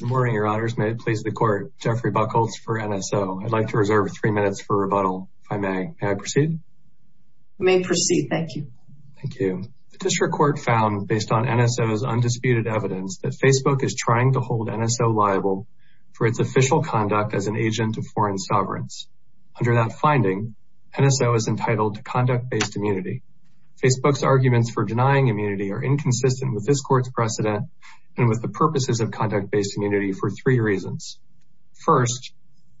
Good morning, Your Honors. May it please the Court, Jeffrey Buchholz for NSO. I'd like to reserve three minutes for rebuttal, if I may. May I proceed? You may proceed, thank you. Thank you. The District Court found, based on NSO's undisputed evidence, that Facebook is trying to hold NSO liable for its official conduct as an agent of foreign sovereigns. Under that finding, NSO is entitled to conduct-based immunity. Facebook's arguments for denying immunity are inconsistent with this Court's precedent and with the purposes of conduct-based immunity for three reasons. First,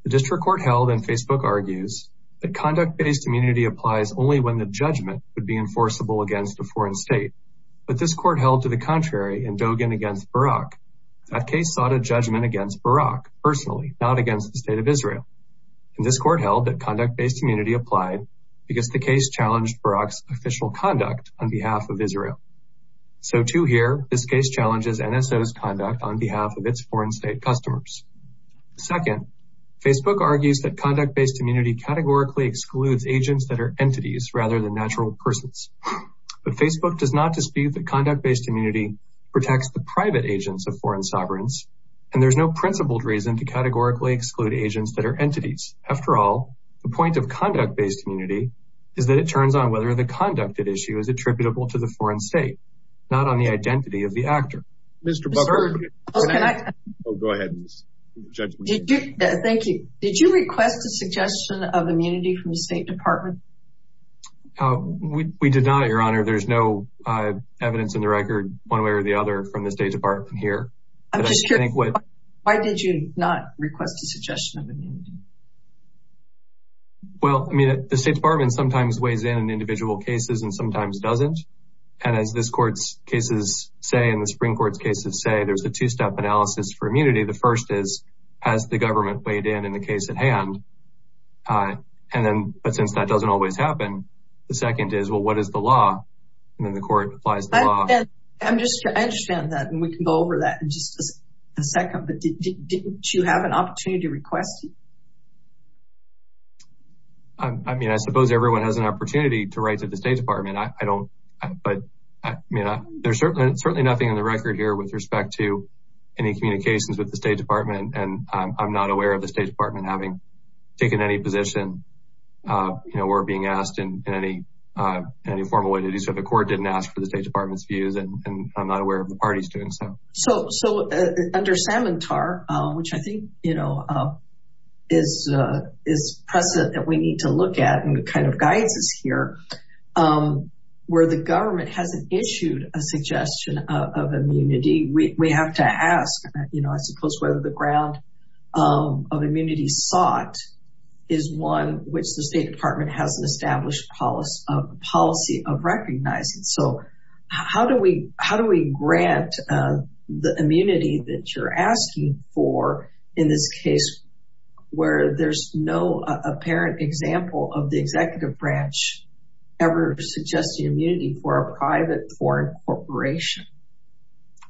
the District Court held, and Facebook argues, that conduct-based immunity applies only when the judgment would be enforceable against a foreign state. But this Court held to the contrary in Dogen against Barak. That case sought a judgment against Barak personally, not against the State of Israel. And this Court held that conduct-based immunity applied So to here, this case challenges NSO's conduct on behalf of its foreign state customers. Second, Facebook argues that conduct-based immunity categorically excludes agents that are entities, rather than natural persons. But Facebook does not dispute that conduct-based immunity protects the private agents of foreign sovereigns, and there's no principled reason to categorically exclude agents that are entities. After all, the point of conduct-based immunity is that it turns on whether the conduct at issue is attributable to the foreign state, not on the identity of the actor. Thank you. Did you request a suggestion of immunity from the State Department? We did not, Your Honor. There's no evidence in the record one way or the other from the State Department here. I'm just curious, why did you not request a suggestion of immunity? Well, I mean, the State Department sometimes weighs in on individual cases and sometimes doesn't. And as this Court's cases say, and the Supreme Court's cases say, there's a two-step analysis for immunity. The first is, has the government weighed in on the case at hand? But since that doesn't always happen, the second is, well, what is the law? And then the Court applies the law. I understand that, and we can go over that in just a second. But didn't you have an opportunity to request it? I mean, I suppose everyone has an opportunity to write to the State Department. But there's certainly nothing in the record here with respect to any communications with the State Department. And I'm not aware of the State Department having taken any position or being asked in any formal way. So the Court didn't ask for the State Department's views, and I'm not aware of the parties doing so. So under Samantar, which I think is present that we need to look at and kind of guides us here, where the government hasn't issued a suggestion of immunity, we have to ask, I suppose, whether the ground of immunity sought is one which the State Department has an established policy of recognizing. So how do we grant the immunity that you're asking for in this case, where there's no apparent example of the executive branch ever suggesting immunity for a private foreign corporation?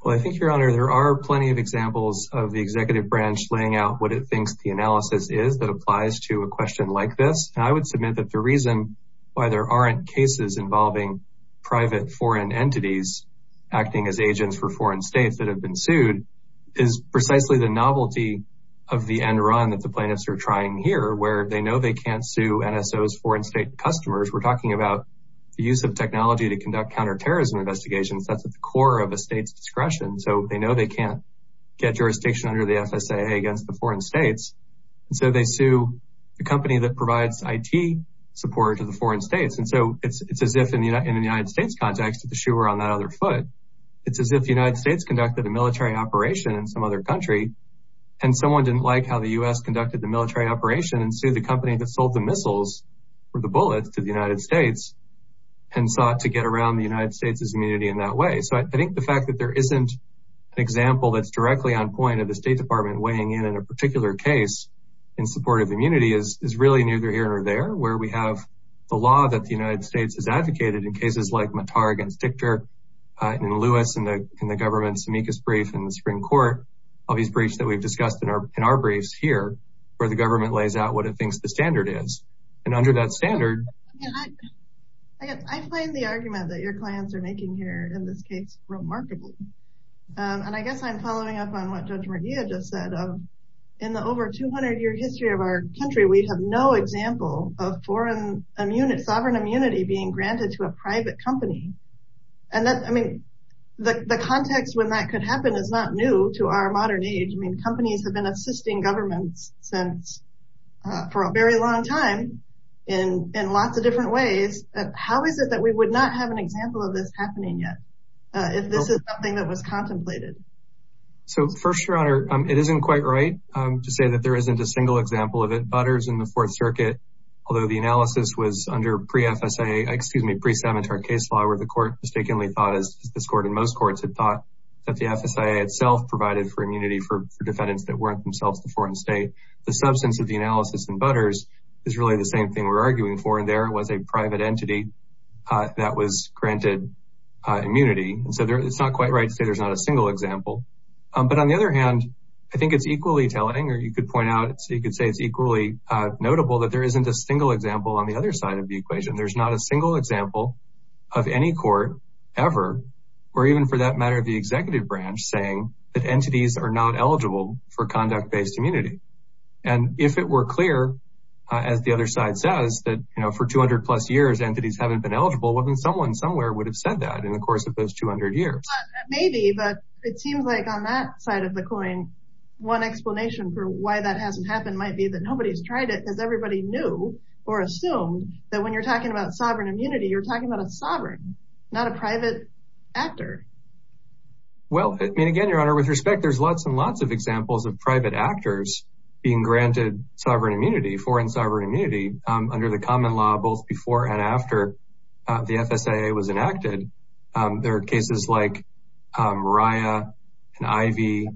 Well, I think, Your Honor, there are plenty of examples of the executive branch laying out what it thinks the analysis is that applies to a question like this. And I would submit that the reason why there aren't cases involving private foreign entities acting as agents for foreign states that have been sued is precisely the novelty of the end run that the plaintiffs are trying here, where they know they can't sue NSO's foreign state customers. We're talking about the use of technology to conduct counterterrorism investigations. That's at the core of a state's discretion. So they know they can't get jurisdiction under the FSA against the foreign states. And so they sue the company that provides IT support to the foreign states. And so it's as if in the United States context, if the shoe were on that other foot, it's as if the United States conducted a military operation in some other country and someone didn't like how the U.S. conducted the military operation and sued the company that sold the missiles or the bullets to the United States and sought to get around the United States' immunity in that way. So I think the fact that there isn't an example that's directly on point of the State Department weighing in in a particular case in support of immunity is really neither here nor there, where we have the law that the United States has advocated in cases like Mattar against Dichter and Lewis and the government's amicus brief in the Supreme Court, all these briefs that we've discussed in our briefs here where the government lays out what it thinks the standard is. And under that standard... I find the argument that your clients are making here in this case remarkable. And I guess I'm following up on what Judge Mardia just said. In the over 200-year history of our country, we have no example of sovereign immunity being granted to a private company. And I mean, the context when that could happen is not new to our modern age. I mean, companies have been assisting governments for a very long time in lots of different ways. How is it that we would not have an example of this happening yet if this is something that was contemplated? So first, Your Honor, it isn't quite right to say that there isn't a single example of it. Butters in the Fourth Circuit, although the analysis was under pre-FSA, excuse me, pre-Savitar case law, where the court mistakenly thought, as this court and most courts had thought, that the FSIA itself provided for immunity for defendants that weren't themselves the foreign state, the substance of the analysis in Butters is really the same thing we're arguing for, and there was a private entity that was granted immunity. And so it's not quite right to say there's not a single example. But on the other hand, I think it's equally telling, or you could point out, so you could say it's equally notable that there isn't a single example on the other side of the equation. There's not a single example of any court ever, or even for that matter the executive branch, saying that entities are not eligible for conduct-based immunity. And if it were clear, as the other side says, that for 200-plus years entities haven't been eligible, well then someone somewhere would have said that in the course of those 200 years. That may be, but it seems like on that side of the coin, one explanation for why that hasn't happened might be that nobody's tried it because everybody knew or assumed that when you're talking about sovereign immunity, you're talking about a sovereign, not a private actor. Well, I mean, again, Your Honor, with respect, there's lots and lots of examples of private actors being granted sovereign immunity, foreign sovereign immunity, under the common law both before and after the FSAA was enacted. There are cases like Raya and Ivey,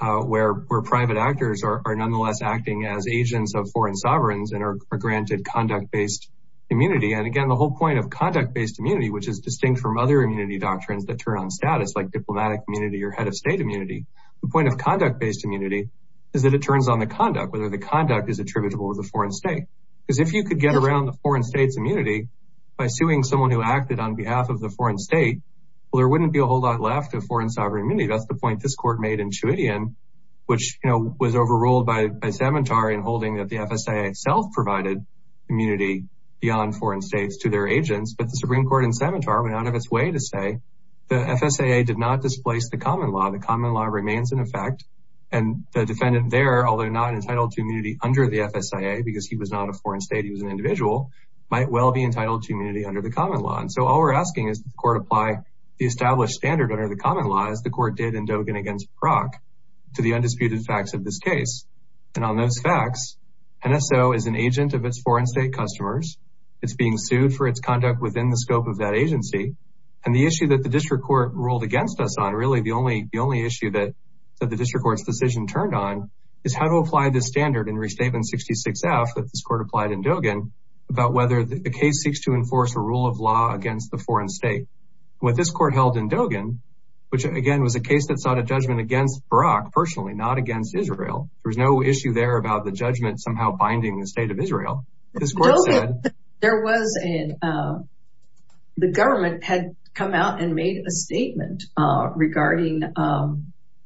where private actors are nonetheless acting as agents of foreign sovereigns and are granted conduct-based immunity. And again, the whole point of conduct-based immunity, which is distinct from other immunity doctrines that turn on status, like diplomatic immunity or head of state immunity, the point of conduct-based immunity is that it turns on the conduct, whether the conduct is attributable to the foreign state. Because if you could get around the foreign state's immunity by suing someone who acted on behalf of the foreign state, well, there wouldn't be a whole lot left of foreign sovereign immunity. That's the point this court made in Chewitian, which was overruled by Savantar in holding that the FSAA itself provided immunity beyond foreign states to their agents. But the Supreme Court in Savantar went out of its way to say the FSAA did not displace the common law. The common law remains in effect. And the defendant there, although not entitled to immunity under the FSAA, because he was not a foreign state, he was an individual, might well be entitled to immunity under the common law. And so all we're asking is that the court apply the established standard under the common law as the court did in Dogan against Brock to the undisputed facts of this case. And on those facts, NSO is an agent of its foreign state customers. It's being sued for its conduct within the scope of that agency. And the issue that the district court ruled against us on, really, the only issue that the district court's decision turned on is how to apply this standard in Restatement 66F that this court applied in Dogan about whether the case seeks to enforce a rule of law against the foreign state. What this court held in Dogan, which, again, was a case that sought a judgment against Brock personally, not against Israel. There was no issue there about the judgment somehow binding the state of Israel. This court said... There was a... The government had come out and made a statement regarding a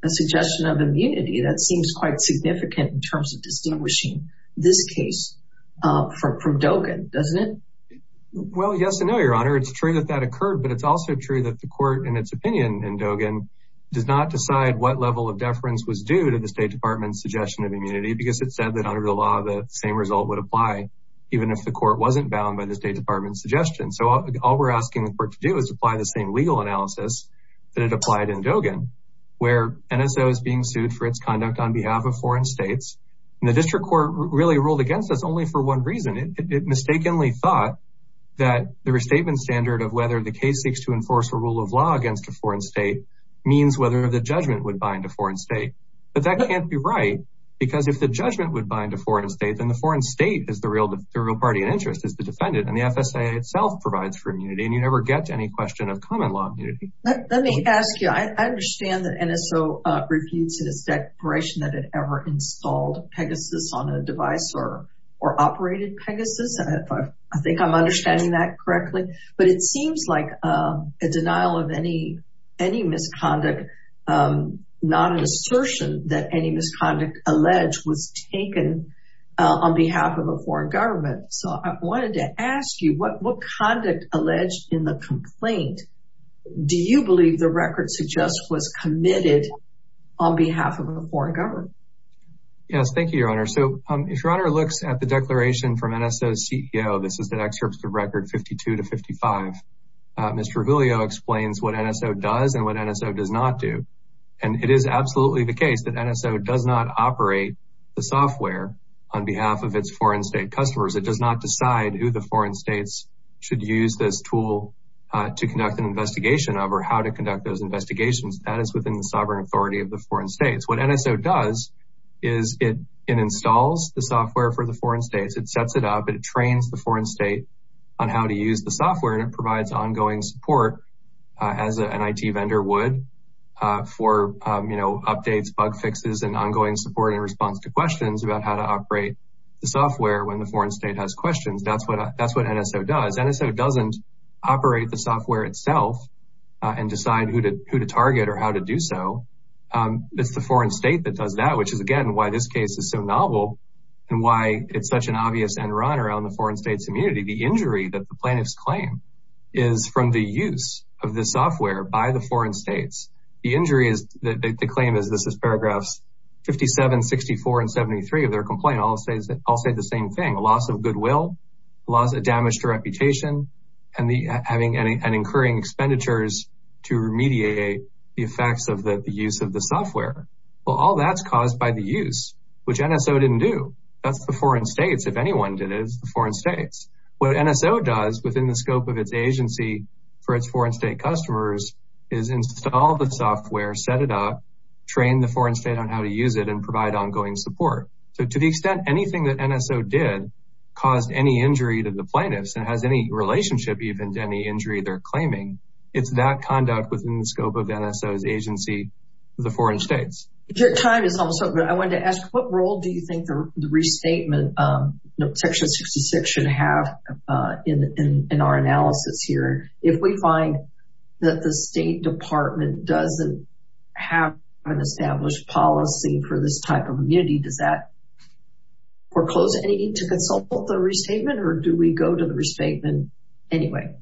suggestion of immunity that seems quite significant in terms of distinguishing this case from Dogan, doesn't it? Well, yes and no, Your Honor. It's true that that occurred, but it's also true that the court, in its opinion, in Dogan, does not decide what level of deference was due to the State Department's suggestion of immunity because it said that under the law, the same result would apply even if the court wasn't bound by the State Department's suggestion. So all we're asking the court to do is apply the same legal analysis that it applied in Dogan where NSO is being sued for its conduct on behalf of foreign states. And the district court really ruled against us only for one reason. It mistakenly thought that the restatement standard of whether the case seeks to enforce a rule of law against a foreign state means whether the judgment would bind a foreign state. But that can't be right because if the judgment would bind a foreign state, then the foreign state is the real party in interest, is the defendant, and the FSA itself provides for immunity, and you never get to any question of common law immunity. Let me ask you. I understand that NSO refutes its declaration that it ever installed Pegasus on a device or operated Pegasus. I think I'm understanding that correctly. But it seems like a denial of any misconduct, not an assertion that any misconduct alleged was taken on behalf of a foreign government. So I wanted to ask you, what conduct alleged in the complaint do you believe the record suggests was committed on behalf of a foreign government? Yes, thank you, Your Honor. So if Your Honor looks at the declaration from NSO's CEO, this is the excerpt of record 52 to 55, Mr. Raviglio explains what NSO does and what NSO does not do. And it is absolutely the case that NSO does not operate the software on behalf of its foreign state customers. It does not decide who the foreign states should use this tool to conduct an investigation of or how to conduct those investigations. That is within the sovereign authority of the foreign states. What NSO does is it installs the software for the foreign states. It sets it up. It trains the foreign state on how to use the software and it provides ongoing support as an IT vendor would for updates, bug fixes, and ongoing support in response to questions about how to operate the software when the foreign state has questions. That's what NSO does. NSO doesn't operate the software itself and decide who to target or how to do so. It's the foreign state that does that, which is again why this case is so novel and why it's such an obvious end run around the foreign state's immunity. The injury that the plaintiffs claim is from the use of the software by the foreign states. The injury is that the claim is this is paragraphs 57, 64, and 73 of their complaint all say the same thing, a loss of goodwill, damage to reputation, and incurring expenditures to remediate the effects of the use of the software. Well, all that's caused by the use, which NSO didn't do. That's the foreign states. If anyone did it, it's the foreign states. What NSO does within the scope of its agency for its foreign state customers is install the software, set it up, train the foreign state on how to use it, and provide ongoing support. So to the extent anything that NSO did caused any injury to the plaintiffs and has any relationship even to any injury they're claiming, it's that conduct within the scope of NSO's agency for the foreign states. Your time is almost up, but I wanted to ask, what role do you think the restatement section 66 should have in our analysis here? If we find that the State Department doesn't have an established policy for this type of immunity, does that foreclose any need to consult the restatement, or do we go to the restatement anyway?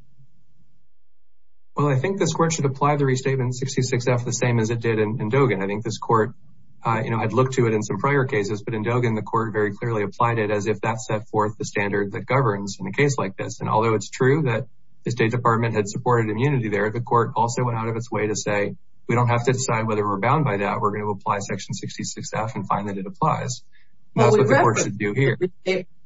Well, I think this court should apply the restatement 66-F the same as it did in Dogen. I think this court, you know, I'd look to it in some prior cases, but in Dogen the court very clearly applied it as if that set forth the standard that governs in a case like this. And although it's true that the State Department had supported immunity there, the court also went out of its way to say, we don't have to decide whether we're bound by that. We're going to apply section 66-F and find that it applies. That's what the court should do here.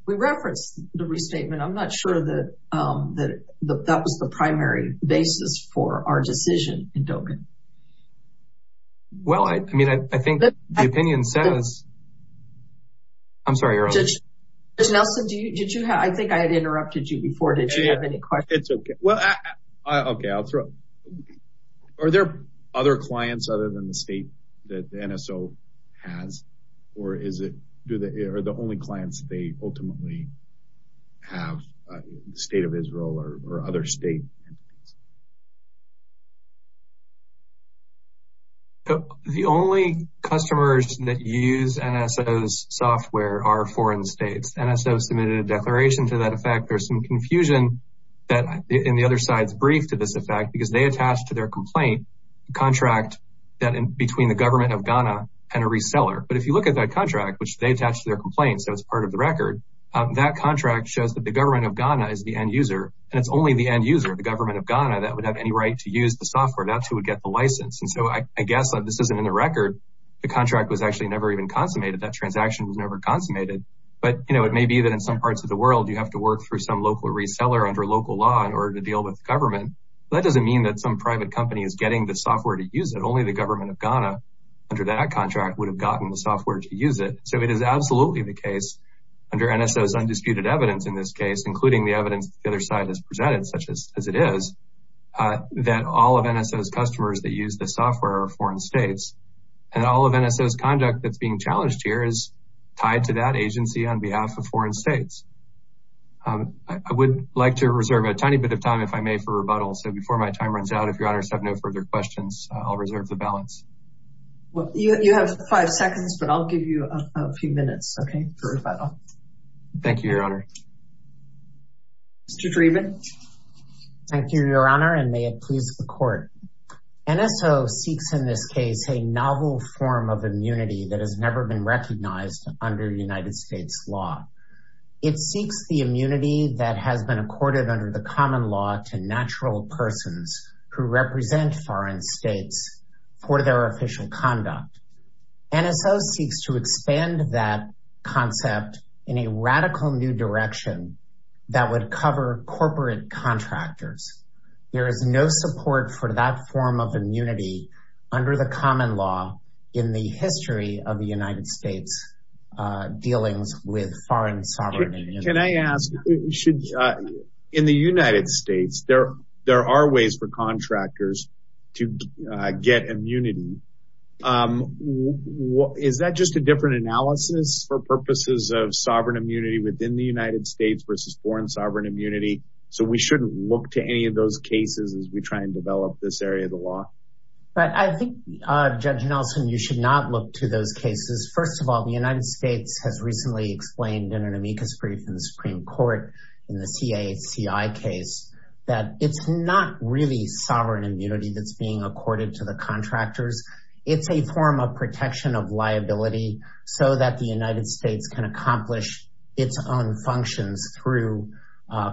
We referenced the restatement. I'm not sure that that was the primary basis for our decision in Dogen. Well, I mean, I think the opinion says – I'm sorry. Judge Nelson, did you – I think I had interrupted you before. Did you have any questions? It's okay. Well, okay. I'll throw – are there other clients other than the State that the NSO has, or is it – are the only clients they ultimately have State of Israel or other state entities? The only customers that use NSO's software are foreign states. NSO submitted a declaration to that effect. There's some confusion in the other side's brief to this effect because they attach to their complaint a contract between the government of Ghana and a reseller. But if you look at that contract, which they attach to their complaint, so it's part of the record, that contract shows that the government of Ghana is the end user, and it's only the end user, the government of Ghana, that would have any right to use the software. That's who would get the license. And so I guess this isn't in the record. The contract was actually never even consummated. That transaction was never consummated. But, you know, it may be that in some parts of the world you have to work through some local reseller under local law in order to deal with government. That doesn't mean that some private company is getting the software to use it. Only the government of Ghana, under that contract, would have gotten the software to use it. So it is absolutely the case, under NSO's undisputed evidence in this case, including the evidence the other side has presented, such as it is, that all of NSO's customers that use the software are foreign states. And all of NSO's conduct that's being challenged here is tied to that agency on behalf of foreign states. I would like to reserve a tiny bit of time, if I may, for rebuttal. So before my time runs out, if your honors have no further questions, I'll reserve the balance. You have five seconds, but I'll give you a few minutes, okay, for rebuttal. Thank you, your honor. Mr. Dreeben. Thank you, your honor, and may it please the court. NSO seeks in this case a novel form of immunity that has never been recognized under United States law. It seeks the immunity that has been accorded under the common law to natural persons who represent foreign states for their official conduct. NSO seeks to expand that concept in a radical new direction that would cover corporate contractors. There is no support for that form of immunity under the common law in the history of the United States dealings with foreign sovereignty. Can I ask, in the United States, there are ways for contractors to get immunity. Is that just a different analysis for purposes of sovereign immunity within the United States versus foreign sovereign immunity? So we shouldn't look to any of those cases as we try and develop this area of the law? I think, Judge Nelson, you should not look to those cases. First of all, the United States has recently explained in an amicus brief in the Supreme Court in the CACI case that it's not really sovereign immunity that's being accorded to the contractors. It's a form of protection of liability so that the United States can accomplish its own functions through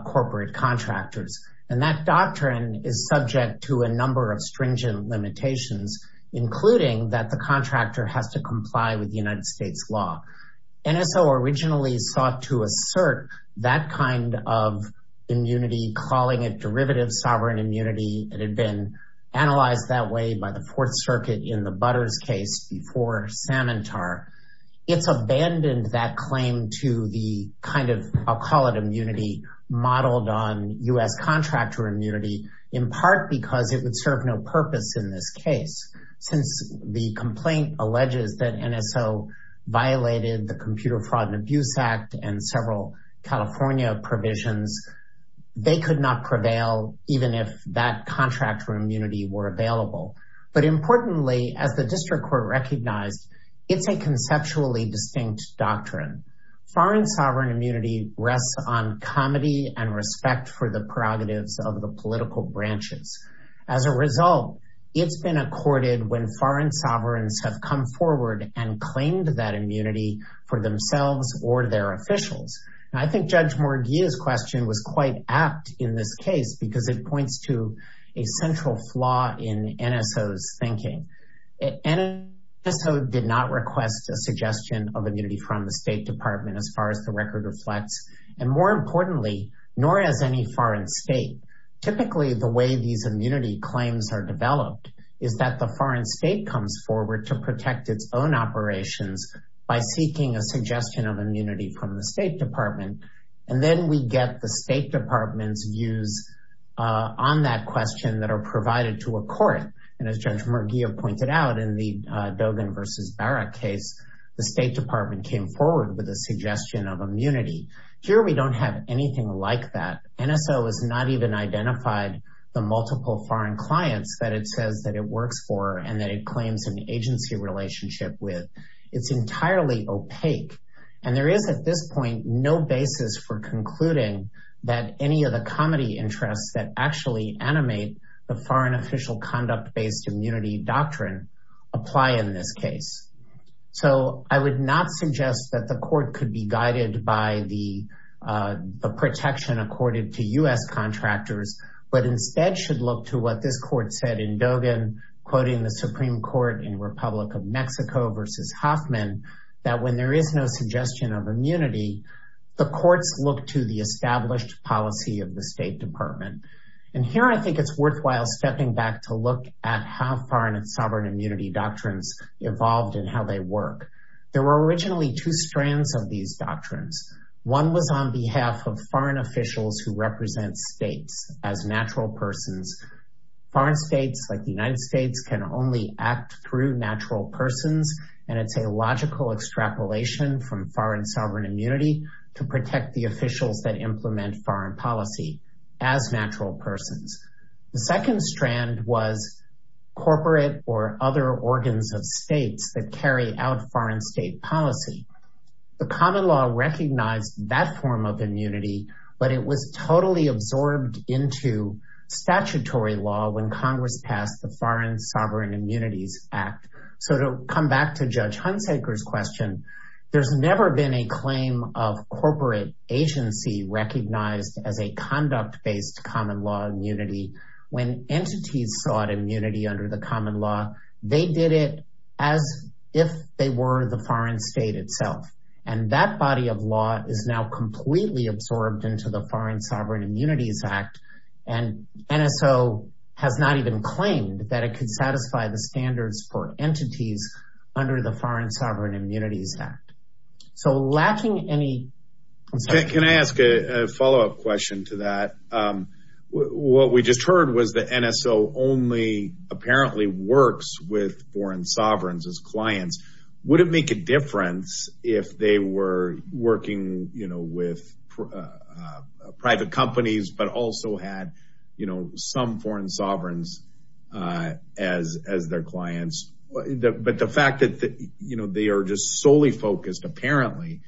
corporate contractors. And that doctrine is subject to a number of stringent limitations, including that the contractor has to comply with the United States law. NSO originally sought to assert that kind of immunity, calling it derivative sovereign immunity. It had been analyzed that way by the Fourth Circuit in the Butters case before Samantar. It's abandoned that claim to the kind of, I'll call it immunity, modeled on U.S. contractor immunity, in part because it would serve no purpose in this case. Since the complaint alleges that NSO violated the Computer Fraud and Abuse Act and several California provisions, they could not prevail even if that contractor immunity were available. But importantly, as the district court recognized, it's a conceptually distinct doctrine. Foreign sovereign immunity rests on comedy and respect for the prerogatives of the political branches. As a result, it's been accorded when foreign sovereigns have come forward and claimed that immunity for themselves or their officials. And I think Judge Morgia's question was quite apt in this case because it points to a central flaw in NSO's thinking. NSO did not request a suggestion of immunity from the State Department as far as the record reflects. And more importantly, nor has any foreign state. Typically, the way these immunity claims are developed is that the foreign state comes forward to protect its own operations by seeking a suggestion of immunity from the State Department. And then we get the State Department's views on that question that are provided to a court. And as Judge Morgia pointed out in the Dogan v. Barra case, the State Department came forward with a suggestion of immunity. Here we don't have anything like that. NSO has not even identified the multiple foreign clients that it says that it works for and that it claims an agency relationship with. It's entirely opaque. And there is at this point no basis for concluding that any of the comedy interests that actually animate the foreign official conduct-based immunity doctrine apply in this case. So I would not suggest that the court could be guided by the protection accorded to U.S. contractors, but instead should look to what this court said in Dogan, quoting the Supreme Court in Republic of Mexico v. Hoffman, that when there is no suggestion of immunity, the courts look to the established policy of the State Department. And here I think it's worthwhile stepping back to look at how foreign and sovereign immunity doctrines evolved and how they work. There were originally two strands of these doctrines. One was on behalf of foreign officials who represent states as natural persons. Foreign states, like the United States, can only act through natural persons, and it's a logical extrapolation from foreign sovereign immunity to protect the officials that implement foreign policy as natural persons. The second strand was corporate or other organs of states that carry out foreign state policy. The common law recognized that form of immunity, but it was totally absorbed into statutory law when Congress passed the Foreign Sovereign Immunities Act. So to come back to Judge Hunsaker's question, there's never been a claim of corporate agency as a conduct-based common law immunity. When entities sought immunity under the common law, they did it as if they were the foreign state itself. And that body of law is now completely absorbed into the Foreign Sovereign Immunities Act, and NSO has not even claimed that it could satisfy the standards for entities under the Foreign Sovereign Immunities Act. So lacking any... Can I ask a follow-up question to that? What we just heard was that NSO only apparently works with foreign sovereigns as clients. Would it make a difference if they were working, you know, with private companies but also had, you know, some foreign sovereigns as their clients? But the fact that, you know, they are just solely focused, apparently,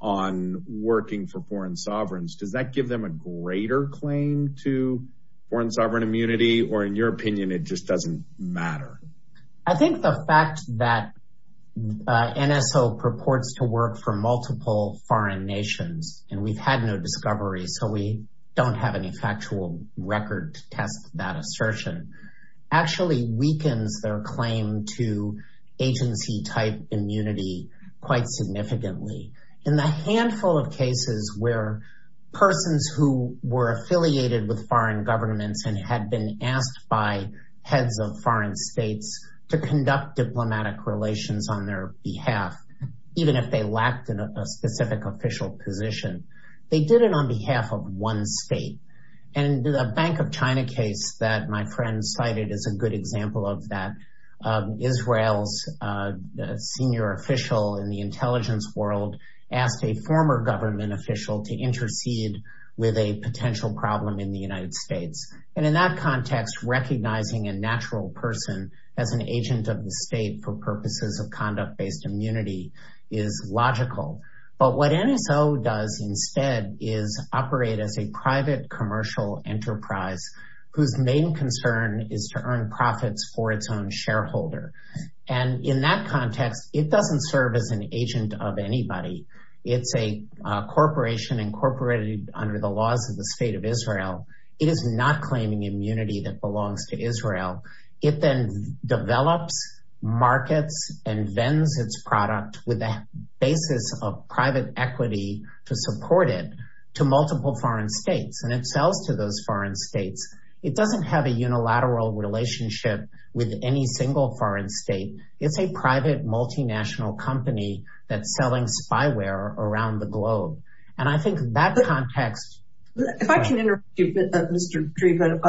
on working for foreign sovereigns, does that give them a greater claim to foreign sovereign immunity? Or in your opinion, it just doesn't matter? I think the fact that NSO purports to work for multiple foreign nations, and we've had no discovery, so we don't have any factual record to test that assertion, actually weakens their claim to agency-type immunity quite significantly. In the handful of cases where persons who were affiliated with foreign governments and had been asked by heads of foreign states to conduct diplomatic relations on their behalf, even if they lacked a specific official position, they did it on behalf of one state. And the Bank of China case that my friend cited is a good example of that. Israel's senior official in the intelligence world asked a former government official to intercede with a potential problem in the United States. And in that context, recognizing a natural person as an agent of the state for purposes of conduct-based immunity is logical. But what NSO does instead is operate as a private commercial enterprise whose main concern is to earn profits for its own shareholder. And in that context, it doesn't serve as an agent of anybody. It's a corporation incorporated under the laws of the State of Israel. It is not claiming immunity that belongs to Israel. It then develops markets and vends its product with a basis of private equity to support it to multiple foreign states. And it sells to those foreign states. It doesn't have a unilateral relationship with any single foreign state. It's a private multinational company that's selling spyware around the globe. And I think that context... If I can interrupt you a bit, Mr. Dreeben,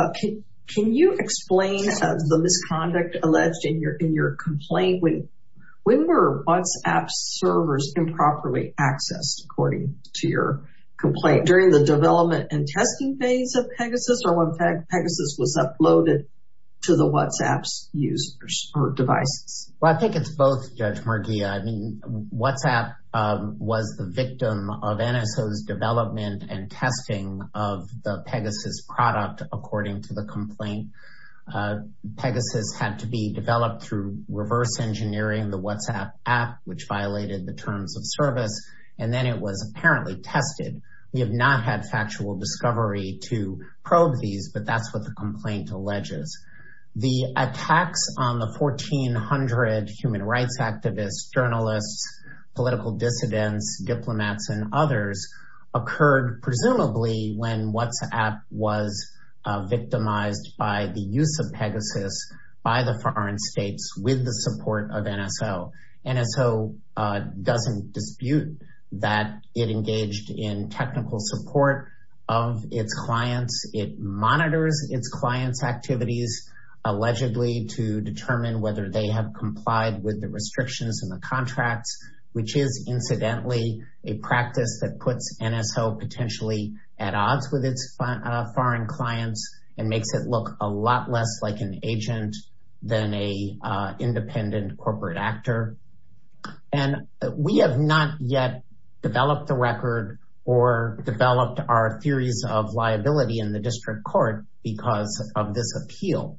can you explain the misconduct alleged in your complaint? When were WhatsApp servers improperly accessed, according to your complaint? During the development and testing phase of Pegasus or when Pegasus was uploaded to the WhatsApp's users or devices? Well, I think it's both, Judge Murguia. I mean, WhatsApp was the victim of NSO's development and testing of the Pegasus product, according to the complaint. Pegasus had to be developed through reverse engineering the WhatsApp app, which violated the terms of service. And then it was apparently tested. We have not had factual discovery to probe these, but that's what the complaint alleges. The attacks on the 1,400 human rights activists, journalists, political dissidents, diplomats, and others occurred presumably when WhatsApp was victimized by the use of Pegasus by the foreign states with the support of NSO. NSO doesn't dispute that it engaged in technical support of its clients. It monitors its clients' activities allegedly to determine whether they have complied with the restrictions and the contracts, which is incidentally a practice that puts NSO potentially at odds with its foreign clients and makes it look a lot less like an agent than a independent corporate actor. And we have not yet developed a record or developed our theories of liability in the district court because of this appeal.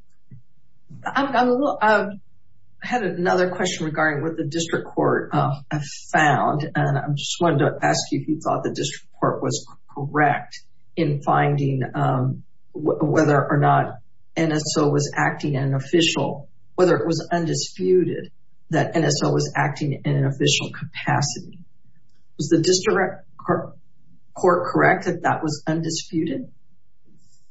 I had another question regarding what the district court have found, and I just wanted to ask you if you thought the district court was correct in finding whether or not NSO was acting in an official, whether it was undisputed that NSO was acting in an official capacity. Was the district court correct that that was undisputed?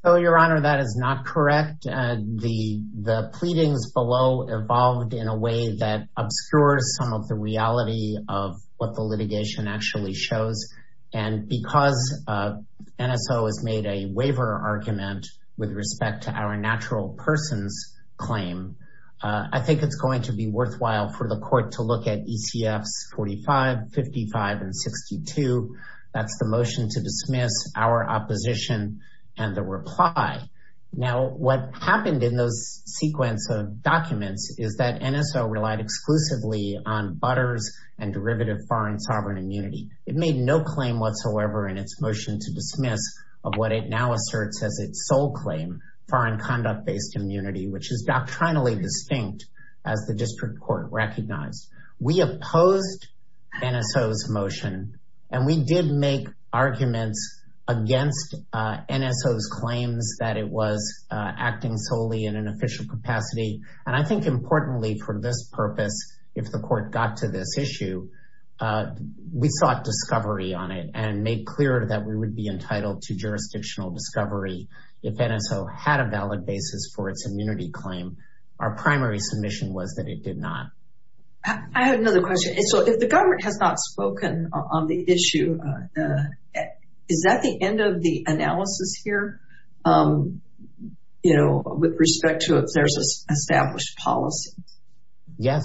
Your Honor, that is not correct. The pleadings below evolved in a way that obscures some of the reality of what the litigation actually shows. And because NSO has made a waiver argument with respect to our natural persons claim, I think it's going to be worthwhile for the court to look at ECFs 45, 55, and 62. That's the motion to dismiss, our opposition, and the reply. Now, what happened in those sequence of documents is that NSO relied exclusively on butters and derivative foreign sovereign immunity. It made no claim whatsoever in its motion to dismiss of what it now asserts as its sole claim, foreign conduct-based immunity, which is doctrinally distinct as the district court recognized. We opposed NSO's motion, and we did make arguments against NSO's claims that it was acting solely in an official capacity. And I think importantly for this purpose, if the court got to this issue, we sought discovery on it and made clear that we would be entitled to jurisdictional discovery if NSO had a valid basis for its immunity claim. Our primary submission was that it did not. I have another question. So if the government has not spoken on the issue, is that the end of the analysis here, you know, with respect to if there's an established policy? Yes,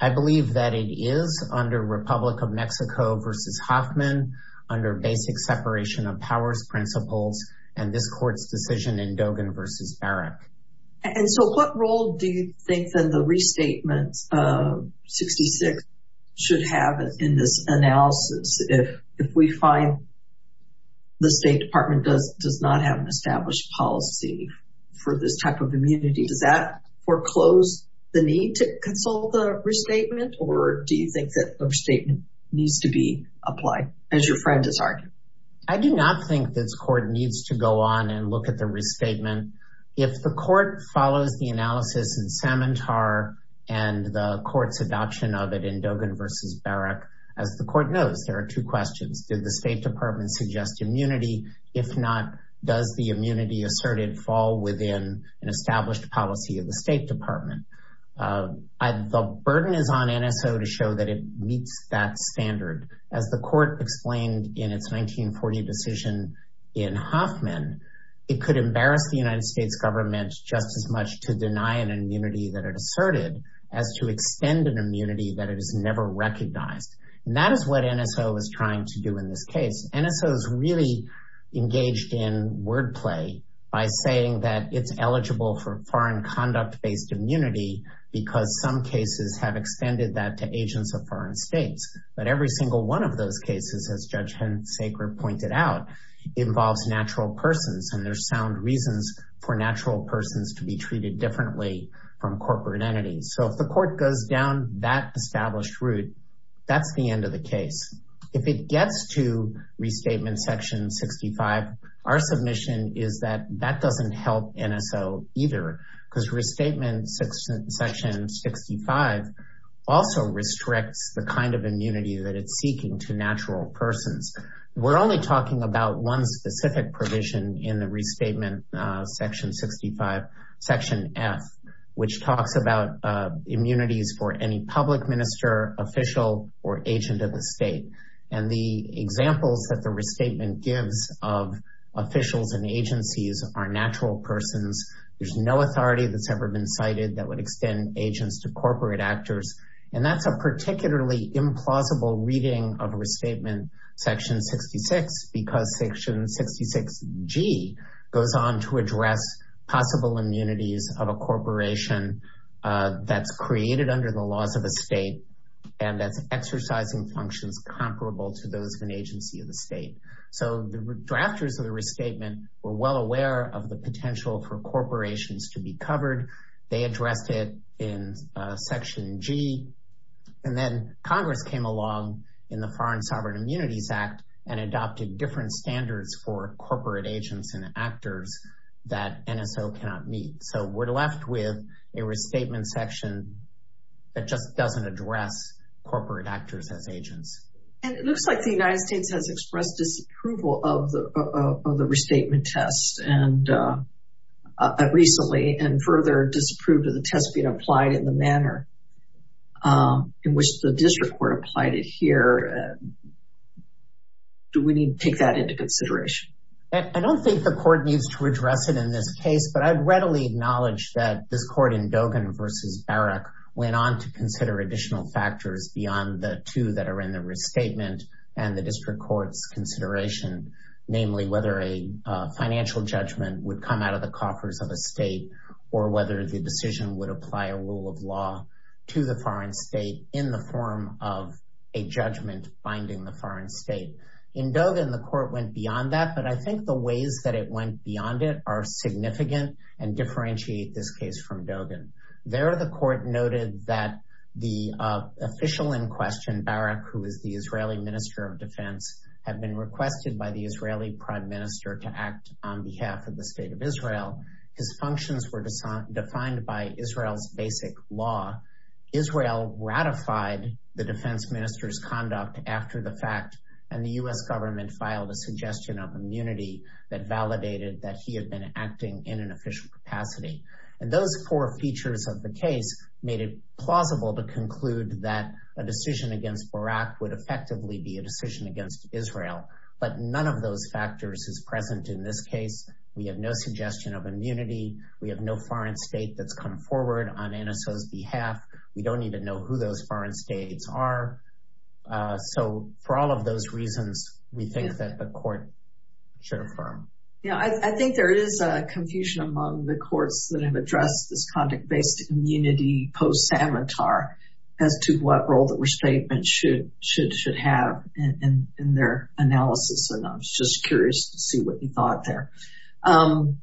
I believe that it is under Republic of Mexico versus Hoffman, under basic separation of powers principles, and this court's decision in Dogan versus Barrack. And so what role do you think that the restatement of 66 should have in this analysis? If we find the State Department does not have an established policy for this type of immunity, does that foreclose the need to consult the restatement, or do you think that restatement needs to be applied, as your friend has argued? I do not think this court needs to go on and look at the restatement. If the court follows the analysis in Samantar and the court's adoption of it in Dogan versus Barrack, as the court knows, there are two questions. Did the State Department suggest immunity? If not, does the immunity asserted fall within an established policy of the State Department? The burden is on NSO to show that it meets that standard. As the court explained in its 1940 decision in Hoffman, it could embarrass the United States government just as much to deny an immunity that it asserted as to extend an immunity that it has never recognized. And that is what NSO is trying to do in this case. NSO is really engaged in wordplay by saying that it's eligible for foreign conduct-based immunity because some cases have extended that to agents of foreign states. But every single one of those cases, as Judge Hensaker pointed out, involves natural persons, and there's sound reasons for natural persons to be treated differently from corporate entities. So if the court goes down that established route, that's the end of the case. If it gets to Restatement Section 65, our submission is that that doesn't help NSO either because Restatement Section 65 also restricts the kind of immunity that it's seeking to natural persons. We're only talking about one specific provision in the Restatement Section 65, Section F, which talks about immunities for any public minister, official, or agent of the state. And the examples that the restatement gives of officials and agencies are natural persons. There's no authority that's ever been cited that would extend agents to corporate actors. And that's a particularly implausible reading of Restatement Section 66 because Section 66G goes on to address possible immunities of a corporation that's created under the laws of the state and that's exercising functions comparable to those of an agency of the state. So the drafters of the restatement were well aware of the potential for corporations to be covered. They addressed it in Section G. And then Congress came along in the Foreign Sovereign Immunities Act and adopted different standards for corporate agents and actors that NSO cannot meet. So we're left with a Restatement Section that just doesn't address corporate actors as agents. And it looks like the United States has expressed disapproval of the restatement test recently and further disapproved of the test being applied in the manner in which the district court applied it here. Do we need to take that into consideration? I don't think the court needs to address it in this case, but I'd readily acknowledge that this court in Dogan v. Barrack went on to consider additional factors beyond the two that are in the restatement and the district court's consideration, namely whether a financial judgment would come out of the coffers of a state or whether the decision would apply a rule of law to the foreign state in the form of a judgment binding the foreign state. In Dogan, the court went beyond that, but I think the ways that it went beyond it are significant and differentiate this case from Dogan. There, the court noted that the official in question, Barrack, who is the Israeli minister of defense, had been requested by the Israeli prime minister to act on behalf of the state of Israel. His functions were defined by Israel's basic law. Israel ratified the defense minister's conduct after the fact, and the U.S. government filed a suggestion of immunity that validated that he had been acting in an official capacity. And those four features of the case made it plausible to conclude that a decision against Barrack would effectively be a decision against Israel, but none of those factors is present in this case. We have no suggestion of immunity. We have no foreign state that's come forward on NSO's behalf. We don't need to know who those foreign states are. So for all of those reasons, we think that the court should affirm. Yeah, I think there is a confusion among the courts that have addressed this conduct-based immunity post-Savitar as to what role the restatement should have in their analysis, and I was just curious to see what you thought there. Nelson,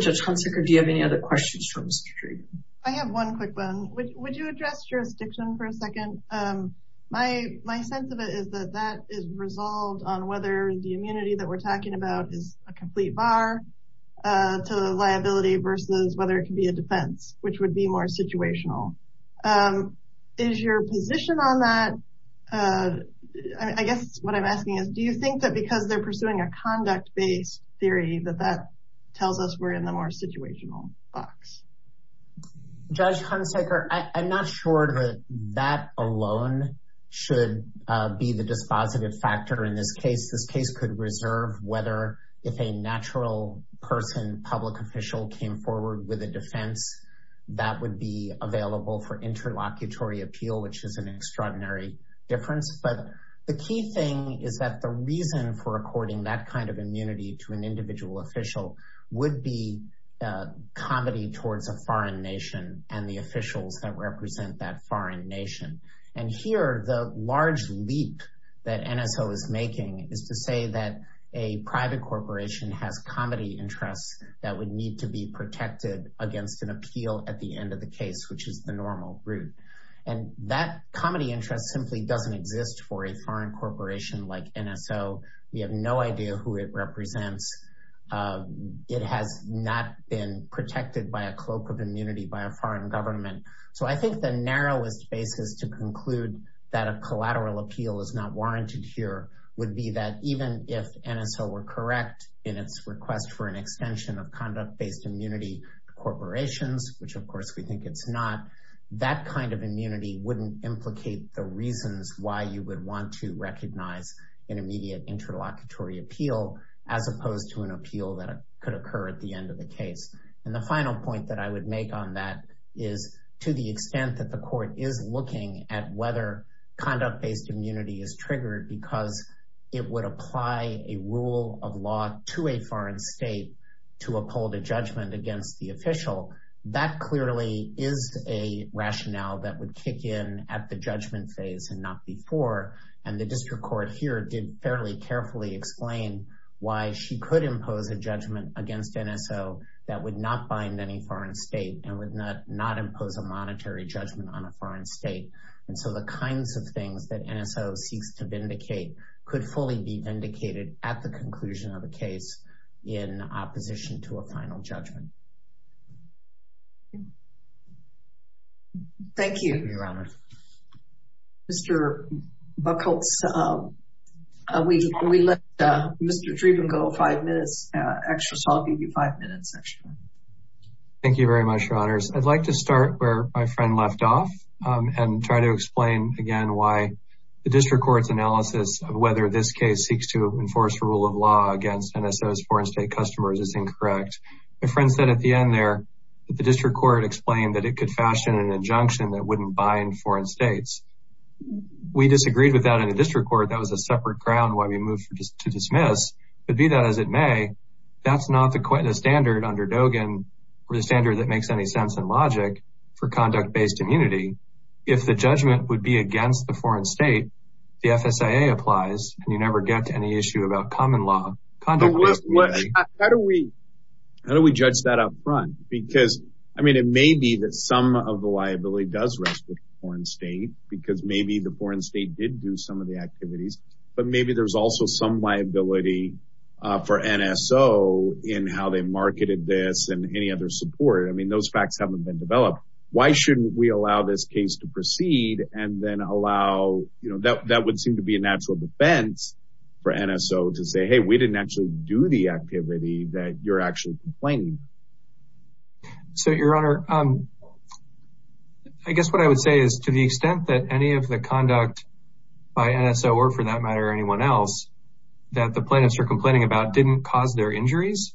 Judge Hunsaker, do you have any other questions for Mr. Trevino? Would you address jurisdiction for a second? My sense of it is that that is resolved on whether the immunity that we're talking about is a complete bar to liability versus whether it could be a defense, which would be more situational. Is your position on that, I guess what I'm asking is, do you think that because they're pursuing a conduct-based theory that that tells us we're in the more situational box? Judge Hunsaker, I'm not sure that that alone should be the dispositive factor in this case. This case could reserve whether if a natural person, public official, came forward with a defense, that would be available for interlocutory appeal, which is an extraordinary difference. But the key thing is that the reason for according that kind of immunity to an individual official would be comedy towards a foreign nation and the officials that represent that foreign nation. And here, the large leap that NSO is making is to say that a private corporation has comedy interests that would need to be protected against an appeal at the end of the case, which is the normal route. And that comedy interest simply doesn't exist for a foreign corporation like NSO. We have no idea who it represents. It has not been protected by a cloak of immunity by a foreign government. So I think the narrowest basis to conclude that a collateral appeal is not warranted here would be that even if NSO were correct in its request for an extension of conduct-based immunity to corporations, which of course we think it's not, that kind of immunity wouldn't implicate the reasons why you would want to recognize an immediate interlocutory appeal as opposed to an appeal that could occur at the end of the case. And the final point that I would make on that is to the extent that the court is looking at whether conduct-based immunity is triggered because it would apply a rule of law to a foreign state to uphold a judgment against the official, that clearly is a rationale that would kick in at the judgment phase and not before. And the district court here did fairly carefully explain why she could impose a judgment against NSO that would not bind any foreign state and would not impose a monetary judgment on a foreign state. And so the kinds of things that NSO seeks to vindicate could fully be vindicated at the conclusion of a case in opposition to a final judgment. Thank you, Your Honor. Mr. Buchholz, we let Mr. Dreeben go five minutes extra, so I'll give you five minutes extra. Thank you very much, Your Honors. I'd like to start where my friend left off and try to explain again why the district court's analysis of whether this case seeks to enforce a rule of law against NSO's foreign state customers is incorrect. My friend said at the end there that the district court explained that it could fashion an injunction that wouldn't bind foreign states. We disagreed with that in the district court. That was a separate ground why we moved to dismiss. But be that as it may, that's not the standard under Dogen or the standard that makes any sense in logic for conduct-based immunity. If the judgment would be against the foreign state, the FSIA applies, and you never get to any issue about common law conduct-based immunity. How do we judge that up front? Because, I mean, it may be that some of the liability does rest with the foreign state because maybe the foreign state did do some of the activities, but maybe there's also some liability for NSO in how they marketed this and any other support. I mean, those facts haven't been developed. Why shouldn't we allow this case to proceed and then allow, you know, that would seem to be a natural defense for NSO to say, hey, we didn't actually do the activity that you're actually complaining. So, Your Honor, I guess what I would say is to the extent that any of the conduct by NSO or, for that matter, anyone else that the plaintiffs are complaining about didn't cause their injuries,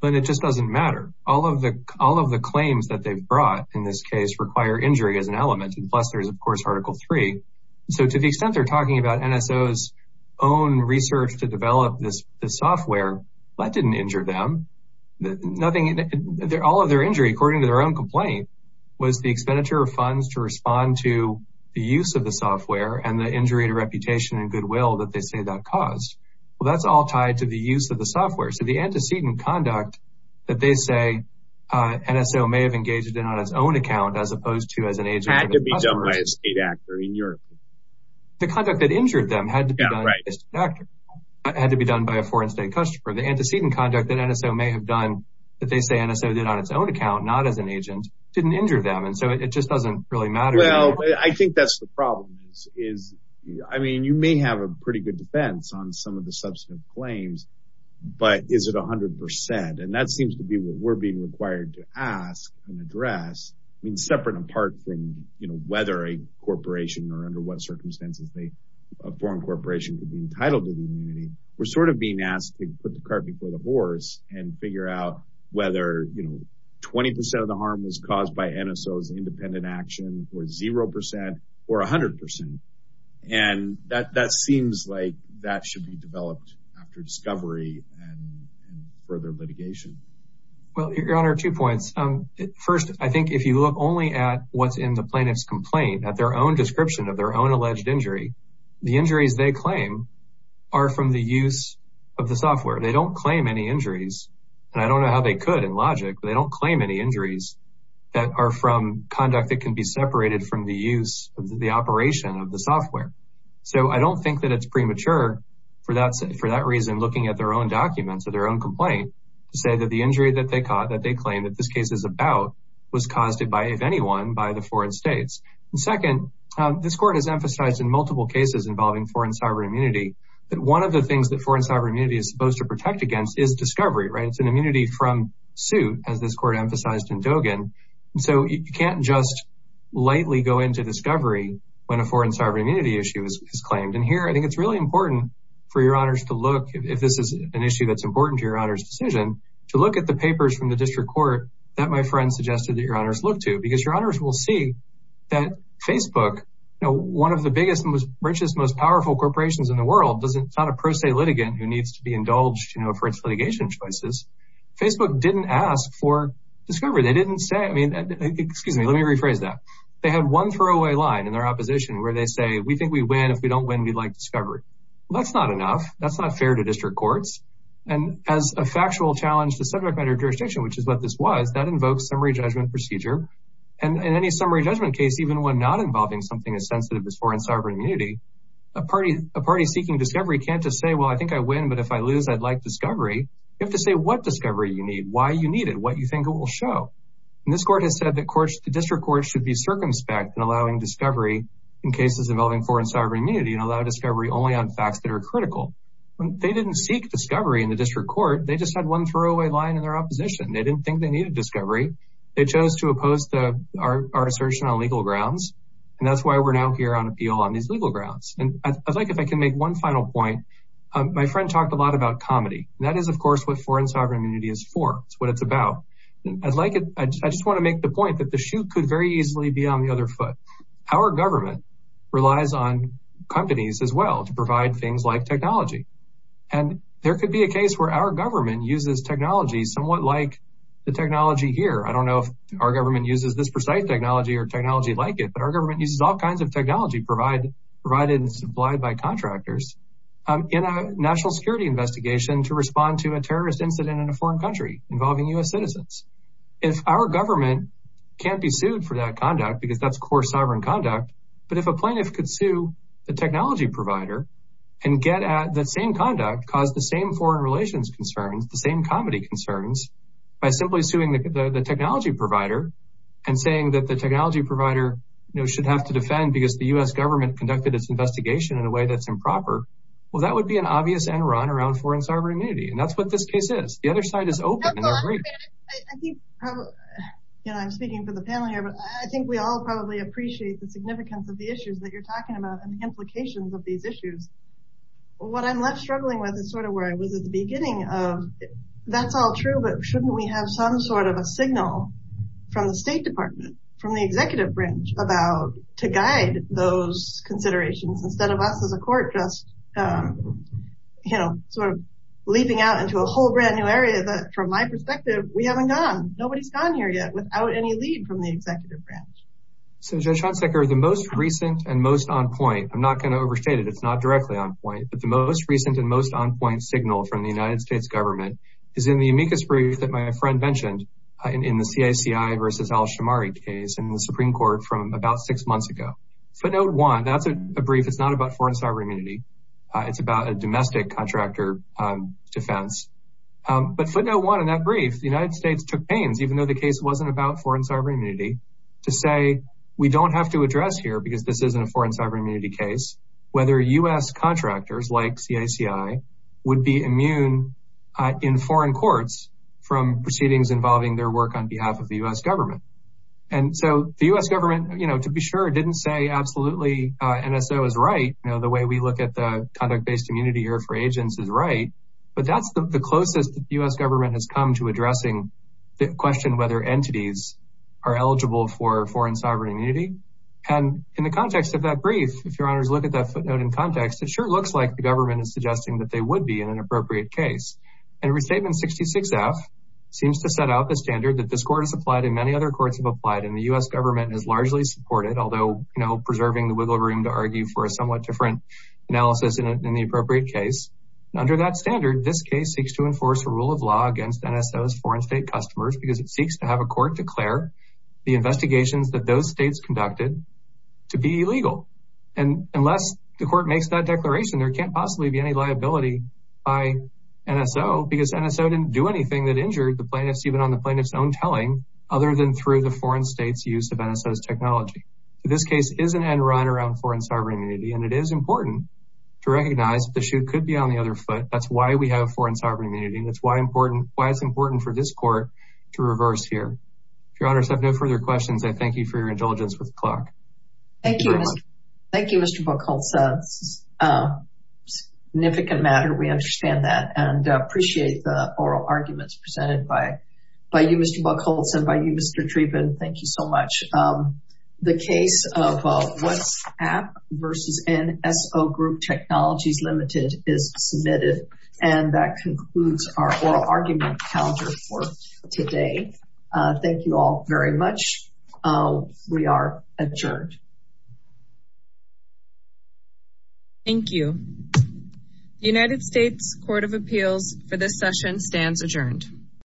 then it just doesn't matter. All of the claims that they've brought in this case require injury as an element, and plus there's, of course, Article 3. So to the extent they're talking about NSO's own research to develop this software, that didn't injure them. All of their injury, according to their own complaint, was the expenditure of funds to respond to the use of the software and the injury to reputation and goodwill that they say that caused. Well, that's all tied to the use of the software. So the antecedent conduct that they say NSO may have engaged in on its own account as opposed to as an agent of the customers. By a state actor in Europe. The conduct that injured them had to be done by a state actor. It had to be done by a foreign state customer. The antecedent conduct that NSO may have done that they say NSO did on its own account, not as an agent, didn't injure them. And so it just doesn't really matter. Well, I think that's the problem. I mean, you may have a pretty good defense on some of the substantive claims, but is it 100%? And that seems to be what we're being required to ask and address. I mean, separate and apart from whether a corporation or under what circumstances a foreign corporation could be entitled to the immunity, we're sort of being asked to put the cart before the horse and figure out whether 20% of the harm was caused by NSO's independent action or 0% or 100%. And that seems like that should be developed after discovery and further litigation. Well, Your Honor, two points. First, I think if you look only at what's in the plaintiff's complaint, at their own description of their own alleged injury, the injuries they claim are from the use of the software. They don't claim any injuries, and I don't know how they could in logic, but they don't claim any injuries that are from conduct that can be separated from the use of the operation of the software. So I don't think that it's premature for that reason looking at their own documents or their own complaint to say that the injury that they caught, that they claim that this case is about, was caused by, if anyone, by the foreign states. Second, this court has emphasized in multiple cases involving foreign sovereign immunity that one of the things that foreign sovereign immunity is supposed to protect against is discovery, right? It's an immunity from suit, as this court emphasized in Dogen. So you can't just lightly go into discovery when a foreign sovereign immunity issue is claimed. And here I think it's really important for Your Honors to look, if this is an issue that's important to Your Honor's decision, to look at the papers from the district court that my friend suggested that Your Honors look to because Your Honors will see that Facebook, one of the biggest, richest, most powerful corporations in the world, it's not a pro se litigant who needs to be indulged for its litigation choices. Facebook didn't ask for discovery. They didn't say, I mean, excuse me, let me rephrase that. They had one throwaway line in their opposition where they say, we think we win, if we don't win, we like discovery. That's not enough. That's not fair to district courts. And as a factual challenge to subject matter jurisdiction, which is what this was, that invokes summary judgment procedure. And in any summary judgment case, even when not involving something as sensitive as foreign sovereign immunity, a party seeking discovery can't just say, well, I think I win, but if I lose, I'd like discovery. You have to say what discovery you need, why you need it, what you think it will show. And this court has said that the district courts should be circumspect in allowing discovery in cases involving foreign sovereign immunity and allow discovery only on facts that are critical. They didn't seek discovery in the district court. They just had one throwaway line in their opposition. They didn't think they needed discovery. They chose to oppose our assertion on legal grounds. And that's why we're now here on appeal on these legal grounds. And I'd like, if I can make one final point, my friend talked a lot about comedy and that is of course, what foreign sovereign immunity is for. It's what it's about. I'd like it. I just want to make the point that the shoe could very easily be on the other foot. Our government relies on companies as well to provide things like technology. And there could be a case where our government uses technology somewhat like the technology here. I don't know if our government uses this precise technology or technology like it, but our government uses all kinds of technology, provide provided and supplied by contractors in a national security investigation to respond to a terrorist incident in a foreign country involving us citizens. If our government can't be sued for that conduct, because that's core sovereign conduct. But if a plaintiff could sue the technology provider and get at that same conduct, cause the same foreign relations concerns, the same comedy concerns by simply suing the technology provider and saying that the technology provider should have to defend because the U S government conducted its investigation in a way that's improper. Well, that would be an obvious and run around foreign sovereign immunity. And that's what this case is. The other side is open. I'm speaking for the panel here, but I think we all probably appreciate the significance of the issues that you're talking about and the implications of these issues. What I'm left struggling with is sort of where I was at the beginning of that's all true, but shouldn't we have some sort of a signal from the state department, from the executive branch about to guide those considerations instead of us as a court, just, you know, Sort of leaping out into a whole brand new area that from my perspective, we haven't gone, nobody's gone here yet without any lead from the executive branch. So judge Schanzer, the most recent and most on point, I'm not going to overstate it. It's not directly on point, but the most recent and most on point signal from the United States government is in the amicus brief that my friend mentioned in the CACI versus Al-Shamari case and the Supreme court from about six months ago. So note one, that's a brief. It's not about foreign sovereign immunity. It's about a domestic contractor defense, but footnote one in that brief, the United States took pains, even though the case wasn't about foreign sovereign immunity to say, we don't have to address here because this isn't a foreign sovereign immunity case, whether U S contractors like CACI would be immune in foreign courts from proceedings involving their work on behalf of the U S government. And so the U S government, you know, to be sure it didn't say absolutely. NSO is right. You know, the way we look at the conduct based immunity here for agents is right, but that's the closest that the U S government has come to addressing the question, whether entities are eligible for foreign sovereign immunity. And in the context of that brief, if your honors look at that footnote in context, it sure looks like the government is suggesting that they would be in an appropriate case. And restatement 66 F seems to set out the standard that this court has applied in many other courts have applied in the U S government and has largely supported, although, you know, preserving the wiggle room to argue for a somewhat different analysis in the appropriate case. And under that standard, this case seeks to enforce a rule of law against NSOs foreign state customers, because it seeks to have a court declare the investigations that those States conducted to be illegal. And unless the court makes that declaration, there can't possibly be any liability by NSO because NSO didn't do anything that injured the plaintiffs, even on the plaintiff's own telling other than through the foreign States use of NSOs technology. So this case is an end run around foreign sovereign immunity, and it is important to recognize that the shoe could be on the other foot. That's why we have foreign sovereign immunity. And that's why important, why it's important for this court to reverse here. If your honors have no further questions, I thank you for your indulgence with the clock. Thank you. Thank you, Mr. Buckholz. Significant matter. We understand that and appreciate the oral arguments presented by, by you, Mr. Buckholz and by you, Mr. Treven. Thank you so much. The case of what's app versus NSO group technologies limited is submitted. And that concludes our oral argument counter for today. Thank you all very much. We are adjourned. Thank you. United States court of appeals for this session stands adjourned.